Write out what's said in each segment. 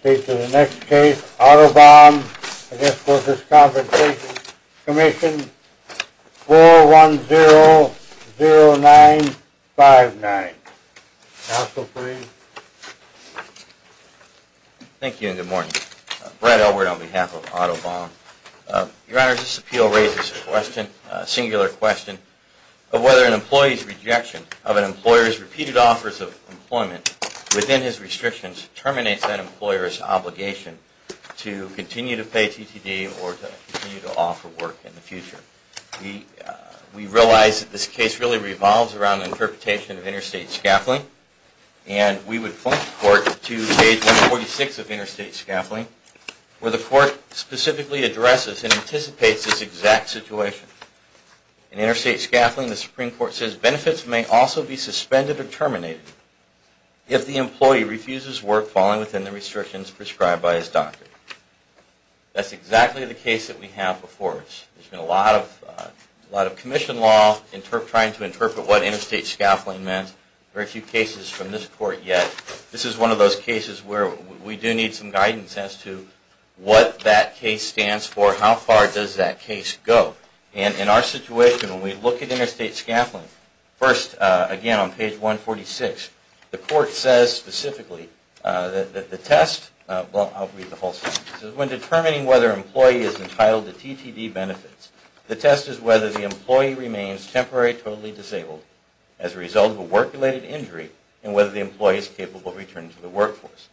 State to the next case, Otto Baum v. Workers' Compensation Commission, 4100959. Counsel, please. Thank you and good morning. Brad Elbert on behalf of Otto Baum. Your Honor, this appeal raises a question, a singular question, of whether an employee's rejection of an employer's repeated offers of employment within his restrictions terminates that employer's obligation to continue to pay TTD or to continue to offer work in the future. We realize that this case really revolves around the interpretation of interstate scaffolding, and we would point the Court to page 146 of interstate scaffolding, where the Court specifically addresses and anticipates this exact situation. In interstate scaffolding, the Supreme Court says benefits may also be suspended or terminated if the employee refuses work falling within the restrictions prescribed by his doctor. That's exactly the case that we have before us. There's been a lot of commission law trying to interpret what interstate scaffolding meant. Very few cases from this Court yet. This is one of those cases where we do need some guidance as to what that case stands for, how far does that case go. And in our situation, when we look at interstate scaffolding, first again on page 146, the Court says specifically that the test – well, I'll read the whole thing. It says, when determining whether an employee is entitled to TTD benefits, the test is whether the employee remains temporarily totally disabled as a result of a work-related injury and whether the employee is capable of returning to the workplace.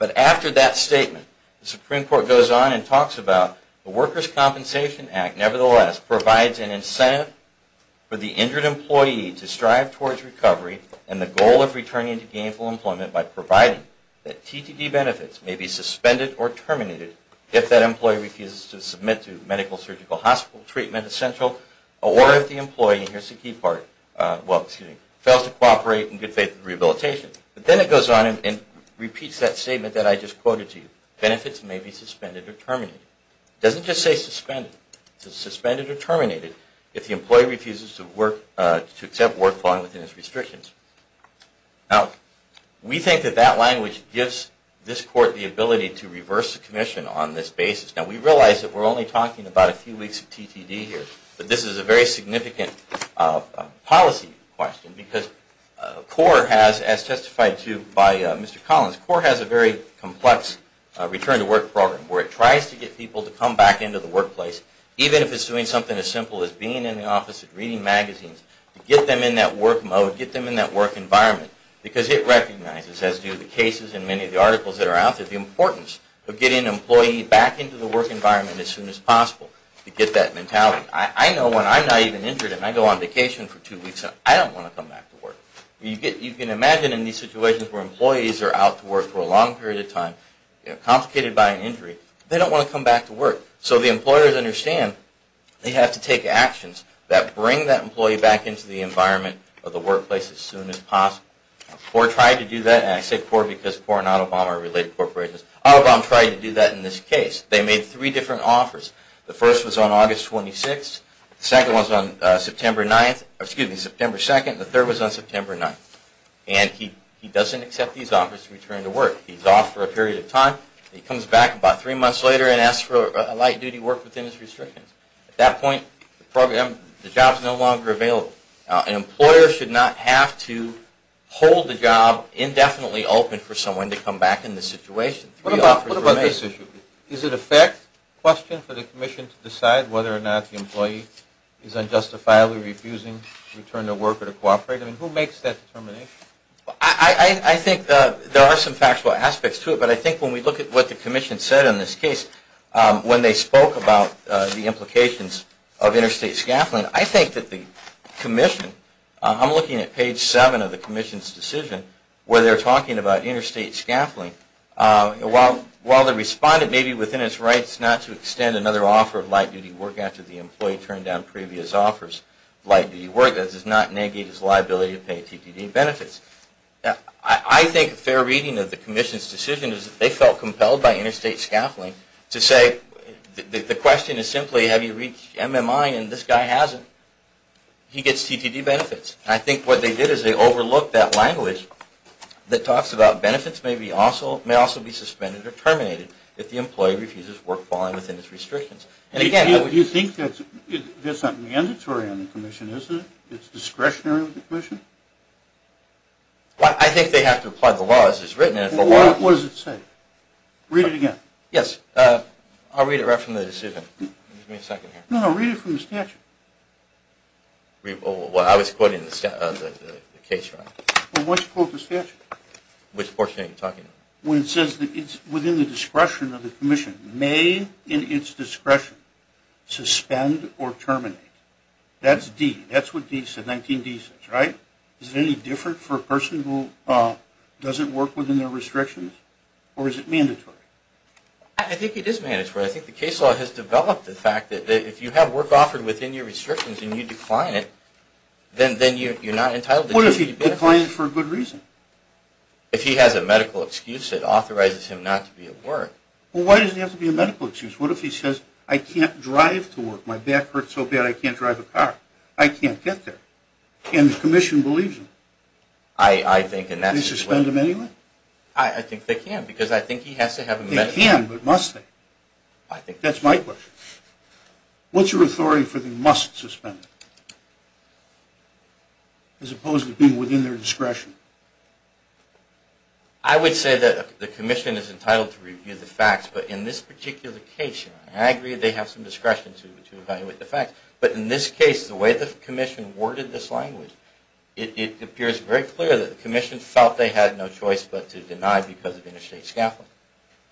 It talks about the Workers' Compensation Act, nevertheless, provides an incentive for the injured employee to strive towards recovery and the goal of returning to gainful employment by providing that TTD benefits may be suspended or terminated if that employee refuses to submit to medical-surgical hospital treatment essential or if the employee fails to cooperate in good faith rehabilitation. But then it goes on and repeats that statement that I just quoted to you. Benefits may be suspended or terminated. It doesn't just say suspended. It says suspended or terminated if the employee refuses to work – to accept work within his restrictions. Now, we think that that language gives this Court the ability to reverse the commission on this basis. Now, we realize that we're only talking about a few weeks of TTD here, but this is a very significant policy question because CORE has, as testified to by Mr. Collins, CORE has a very complex return-to-work program where it tries to get people to come back into the workplace, even if it's doing something as simple as being in the office and reading magazines, to get them in that work mode, get them in that work environment because it recognizes, as do the cases in many of the articles that are out there, the importance of getting an employee back into the work environment as soon as possible to get that mentality. I know when I'm not even injured and I go on vacation for two weeks, I don't want to come back to work. You can imagine in these situations where employees are out to work for a long period of time, complicated by an injury, they don't want to come back to work. So the employers understand they have to take actions that bring that employee back into the environment of the workplace as soon as possible. CORE tried to do that, and I say CORE because CORE and Autobahm are related corporations. Autobahm tried to do that in this case. They made three different offers. The first was on August 26th, the second was on September 9th, excuse me, September 2nd, and the third was on September 9th. And he doesn't accept these offers to return to work. He's off for a period of time. He comes back about three months later and asks for a light-duty work within his indefinitely open for someone to come back in this situation. What about this issue? Is it a fact question for the Commission to decide whether or not the employee is unjustifiably refusing to return to work or to cooperate? I mean, who makes that determination? I think there are some factual aspects to it, but I think when we look at what the Commission said in this case, when they spoke about the interstate scaffolding, while they responded maybe within its rights not to extend another offer of light-duty work after the employee turned down previous offers of light-duty work, that does not negate his liability to pay TTD benefits. I think a fair reading of the Commission's decision is that they felt compelled by interstate scaffolding to say the question is simply have you reached MMI, and this guy hasn't. He gets TTD benefits. I think what they did is they overlooked that language that talks about benefits may also be suspended or terminated if the employee refuses work following within its restrictions. Do you think that's not mandatory on the Commission, is it? It's discretionary with the Commission? I think they have to apply the law as it's written. What does it say? Read it again. Yes. I'll read it right from the decision. No, no, read it from the statute. Well, I was quoting the statute. Which portion are you talking about? When it says that it's within the discretion of the Commission, may in its discretion suspend or terminate. That's D. That's what 19D says, right? Is it any different for a person who doesn't work within their restrictions, or is it mandatory? I think it is mandatory. I think the case law has developed the fact that if you have work offered within your restrictions and you decline it, then you're not entitled to it. What if he declines it for a good reason? If he has a medical excuse, it authorizes him not to be at work. Well, why does it have to be a medical excuse? What if he says, I can't drive to work. My back hurts so bad I can't drive a car. I can't get there. And the Commission believes him. I think in that situation. They suspend him anyway? I think they can, because I think he has to have a medical excuse. They can, but must they? That's my question. What's your authority for the must suspend? As opposed to being within their discretion. I would say that the Commission is entitled to review the facts, but in this particular case, I agree they have some discretion to evaluate the facts. But in this case, the way the Commission worded this language, it appears very clear that the Commission felt they had no choice but to deny because of interstate scaffolding.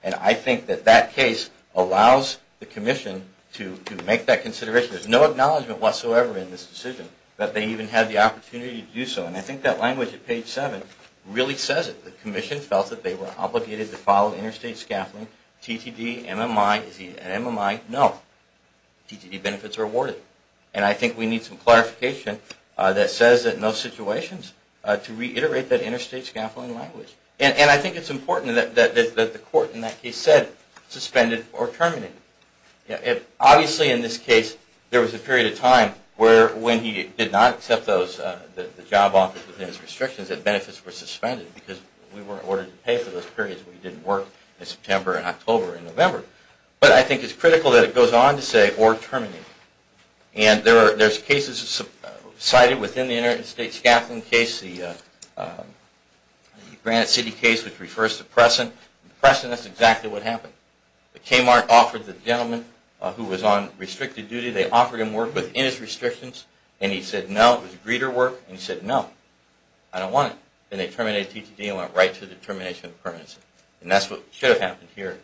And I think that that case allows the Commission to make that consideration. There's no acknowledgment whatsoever in this decision that they even had the opportunity to do so. And I think that language at page 7 really says it. The Commission felt that they were obligated to follow interstate scaffolding. TTD, MMI, is he an MMI? No. TTD benefits are awarded. And I think we need some clarification that says that in those situations, to reiterate that interstate scaffolding language. And I think it's important that the court in that case said suspended or terminated. Obviously in this case, there was a period of time where when he did not accept the job offer within his restrictions, that benefits were suspended because we weren't ordered to pay for those periods. We didn't work in September and October and November. But I think it's critical that it goes on to say or terminate. And there's cases cited within the interstate scaffolding case, the Granite City case, which refers to Preston. In Preston, that's exactly what happened. The Kmart offered the gentleman who was on restricted duty, they offered him work within his restrictions. And he said no, it was greeter work. And he said no, I don't want it. And they terminated TTD and went right to the termination of permanency. And that's what should have happened here.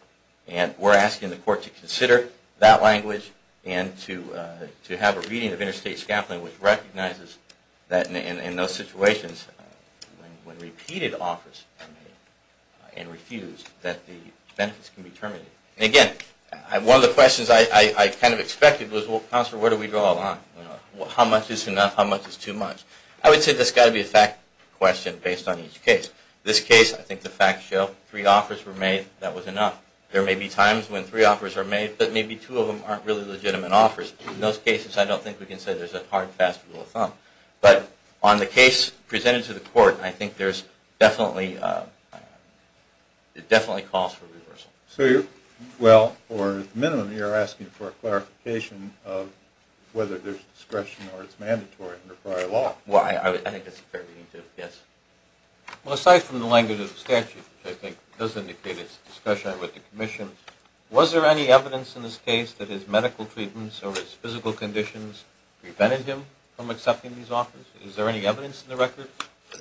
And we're asking the court to consider that language and to have a reading of interstate scaffolding which recognizes that in those situations, when repeated offers are made and refused, that the benefits can be terminated. And again, one of the questions I kind of expected was, well, counselor, where do we go along? How much is enough? How much is too much? I would say there's got to be a fact question based on each case. In this case, I think the facts show three offers were made, that was enough. There may be times when three offers are made, but maybe two of them aren't really legitimate offers. In those cases, I don't think we can say there's a hard, fast rule of thumb. But on the case presented to the court, I think there's definitely – it definitely calls for reversal. Well, for the minimum, you're asking for a clarification of whether there's discretion or it's mandatory under prior law. Well, I think that's a fair reading, too. Yes. Well, aside from the language of the statute, which I think does indicate it's discretionary with the commission, was there any evidence in this case that his medical treatments or his physical conditions prevented him from accepting these offers? Is there any evidence in the record?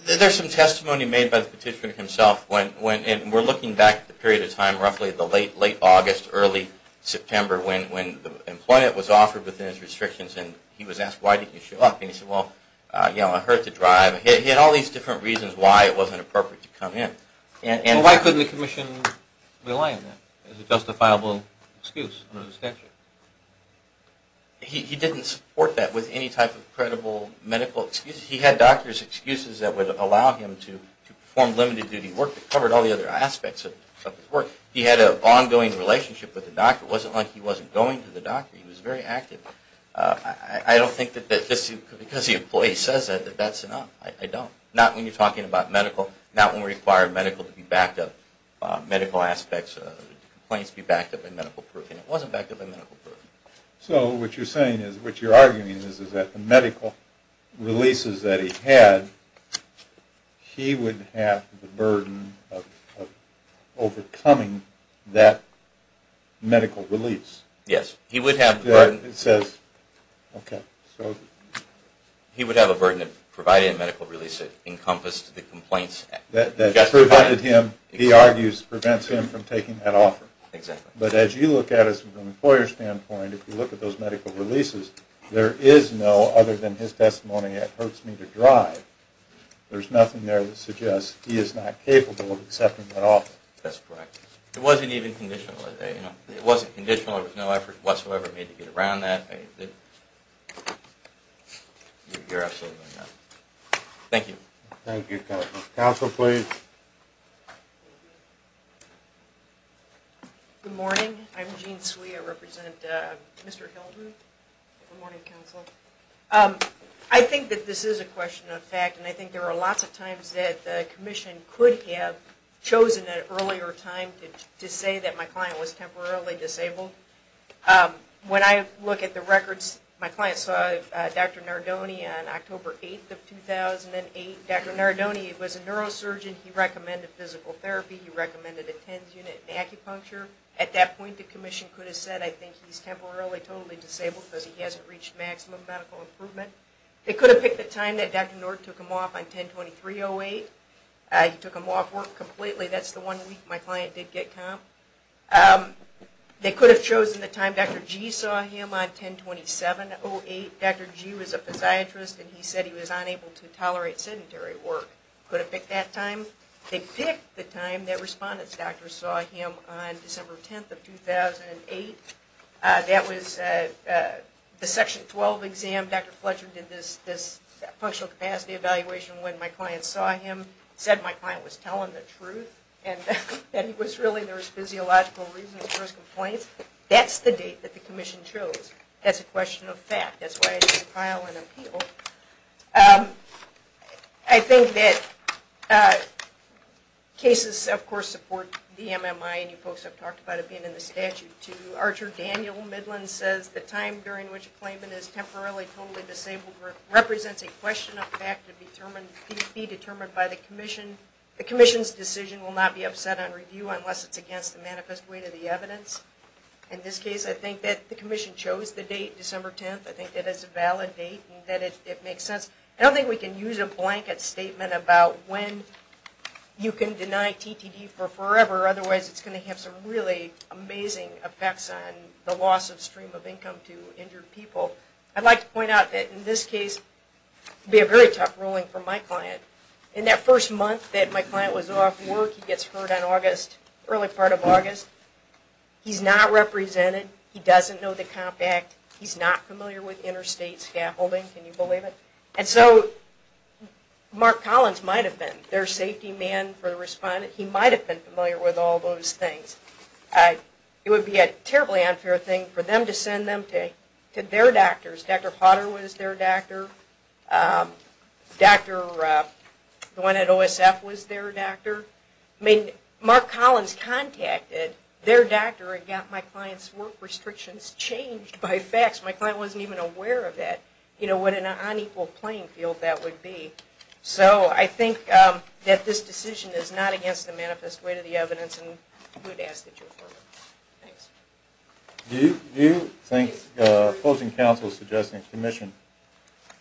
There's some testimony made by the petitioner himself. And we're looking back at the period of time, roughly the late August, early September, when employment was offered within his restrictions, and he was asked, why didn't you show up? And he said, well, you know, I heard the drive. He had all these different reasons why it wasn't appropriate to come in. Well, why couldn't the commission rely on that as a justifiable excuse under the statute? He didn't support that with any type of credible medical excuse. He had doctor's excuses that would allow him to perform limited duty work that covered all the other aspects of his work. He had an ongoing relationship with the doctor. It wasn't like he wasn't going to the doctor. He was very active. I don't think that just because the employee says that, that that's enough. I don't. Not when you're talking about medical, not when we require medical to be backed up, medical aspects of complaints be backed up by medical proof. And it wasn't backed up by medical proof. So what you're saying is, what you're arguing is, is that the medical releases that he had, he would have the burden of overcoming that medical release. Yes. He would have the burden of providing a medical release that encompassed the complaints. That prevented him, he argues, prevents him from taking that offer. Exactly. But as you look at it from an employer standpoint, if you look at those medical releases, there is no other than his testimony that hurts me to drive. There's nothing there that suggests he is not capable of accepting that offer. That's correct. It wasn't even conditional. It wasn't conditional. There was no effort whatsoever made to get around that. You're absolutely right. Thank you. Thank you, counsel. Counsel, please. Good morning. I'm Jean Swee. I represent Mr. Hilton. Good morning, counsel. I think that this is a question of fact, and I think there are lots of times that the commission could have chosen at an earlier time to say that my client was temporarily disabled. When I look at the records, my client saw Dr. Nardone on October 8th of 2008. Dr. Nardone was a neurosurgeon. He recommended physical therapy. He recommended a TENS unit and acupuncture. At that point, the commission could have said, I think he's temporarily totally disabled because he hasn't reached maximum medical improvement. They could have picked the time that Dr. Nord took him off on 10-23-08. He took him off work completely. That's the one week my client did get comp. They could have chosen the time Dr. G saw him on 10-27-08. Dr. G was a podiatrist, and he said he was unable to tolerate sedentary work. Could have picked that time. They picked the time that respondent's doctor saw him on December 10th of 2008. That was the Section 12 exam. Dr. Fletcher did this functional capacity evaluation when my client saw him, said my client was telling the truth, and that he was really, there was physiological reasons for his complaints. That's the date that the commission chose. That's a question of fact. That's why I didn't file an appeal. I think that cases, of course, support the MMI, and you folks have talked about it being in the statute too. Archer Daniel Midland says the time during which a claimant is temporarily totally disabled represents a question of fact to be determined by the commission. The commission's decision will not be upset on review unless it's against the manifest weight of the evidence. In this case, I think that the commission chose the date, December 10th. I think that is a valid date and that it makes sense. I don't think we can use a blanket statement about when you can deny TTD for forever, otherwise it's going to have some really amazing effects on the loss of stream of income to injured people. I'd like to point out that in this case, it would be a very tough ruling for my client. In that first month that my client was off work, he gets hurt in the early part of August. He's not represented. He doesn't know the Comp Act. He's not familiar with interstate scaffolding. Can you believe it? And so Mark Collins might have been their safety man for the respondent. He might have been familiar with all those things. It would be a terribly unfair thing for them to send them to their doctors. Dr. Potter was their doctor. The one at OSF was their doctor. Mark Collins contacted their doctor and got my client's work restrictions changed by fax. My client wasn't even aware of that, what an unequal playing field that would be. So I think that this decision is not against the manifest way to the evidence and we would ask that you affirm it. Thanks. Do you think opposing counsels suggesting a commission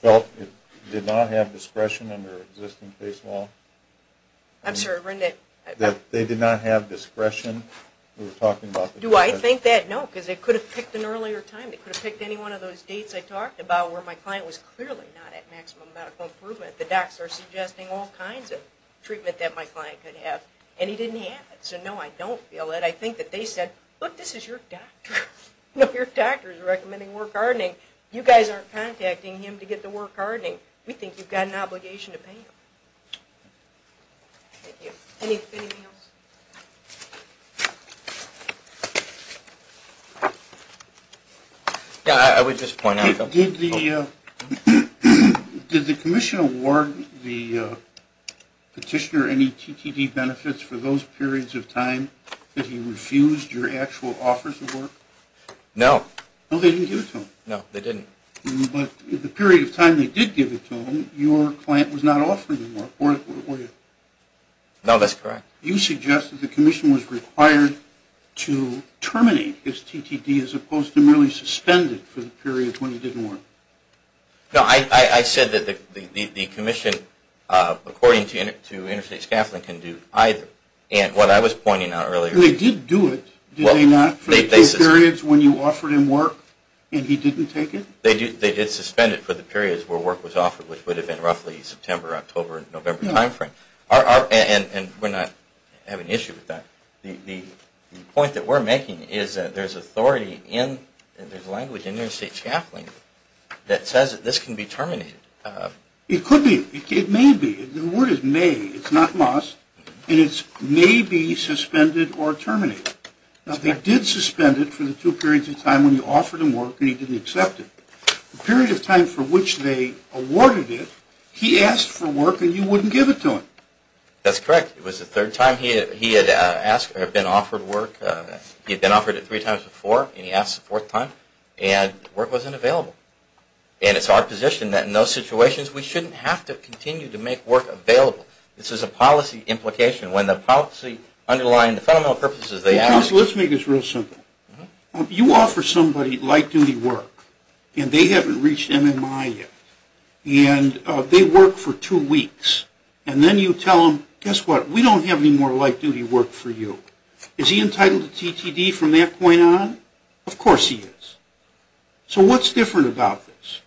felt it did not have discretion under existing case law? I'm sorry, Rendit. That they did not have discretion? Do I think that? No, because they could have picked an earlier time. They could have picked any one of those dates I talked about where my client was clearly not at maximum medical improvement. The docs are suggesting all kinds of treatment that my client could have and he didn't have it. So no, I don't feel it. I think that they said, look, this is your doctor. Your doctor is recommending work hardening. You guys aren't contacting him to get the work hardening. We think you've got an obligation to pay him. Thank you. Anything else? Yeah, I would just point out. Did the commission award the petitioner any TTD benefits for those periods of time that he refused your actual offers of work? No. No, they didn't give it to him. No, they didn't. But the period of time they did give it to him, your client was not offering the work, were you? No, that's correct. You suggest that the commission was required to terminate his TTD as opposed to merely suspend it for the periods when he didn't work. No, I said that the commission, according to interstate scaffolding, can do either. And what I was pointing out earlier... They did do it, did they not, for the two periods when you offered him work and he didn't take it? They did suspend it for the periods where work was offered, which would have been roughly September, October, and November timeframe. And we're not having an issue with that. The point that we're making is that there's authority in, there's language in interstate scaffolding that says that this can be terminated. It could be. It may be. The word is may. It's not must. And it's may be suspended or terminated. They did suspend it for the two periods of time when you offered him work and he didn't accept it. The period of time for which they awarded it, he asked for work and you wouldn't give it to him. That's correct. It was the third time he had been offered work. He had been offered it three times before, and he asked a fourth time, and work wasn't available. And it's our position that in those situations we shouldn't have to continue to make work available. This is a policy implication. When the policy underlying the fundamental purposes they ask... You offer somebody light-duty work, and they haven't reached MMI yet, and they work for two weeks. And then you tell them, guess what, we don't have any more light-duty work for you. Is he entitled to TTD from that point on? Of course he is. So what's different about this?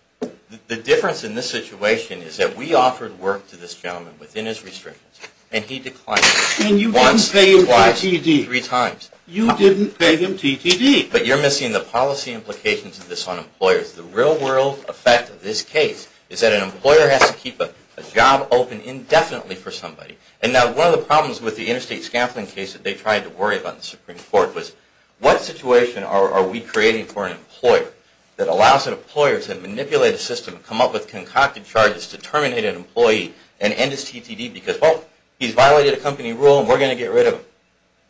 The difference in this situation is that we offered work to this gentleman within his restrictions, and he declined. And you didn't pay him TTD. Three times. You didn't pay him TTD. But you're missing the policy implications of this on employers. The real-world effect of this case is that an employer has to keep a job open indefinitely for somebody. And now one of the problems with the interstate scaffolding case that they tried to worry about in the Supreme Court was, what situation are we creating for an employer that allows an employer to manipulate a system, come up with concocted charges to terminate an employee and end his TTD because, well, he's violated a company rule and we're going to get rid of him.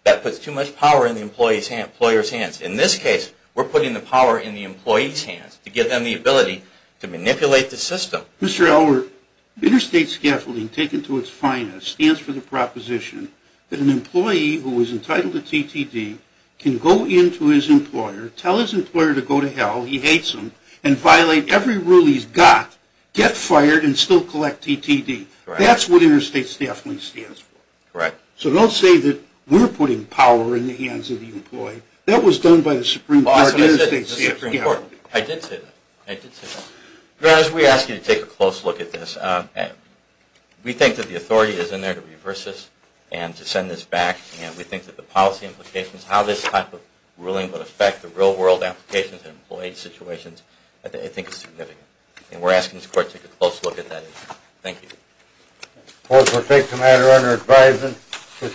That puts too much power in the employer's hands. In this case, we're putting the power in the employee's hands to give them the ability to manipulate the system. Mr. Elwood, interstate scaffolding, taken to its finest, stands for the proposition that an employee who is entitled to TTD can go in to his employer, tell his employer to go to hell, he hates him, and violate every rule he's got, get fired, and still collect TTD. That's what interstate scaffolding stands for. So don't say that we're putting power in the hands of the employee. That was done by the Supreme Court. I did say that. Your Honor, we ask you to take a close look at this. We think that the authority is in there to reverse this and to send this back, and we think that the policy implications, how this type of ruling would affect the real-world applications and employee situations, I think is significant. And we're asking this Court to take a close look at that issue. Thank you.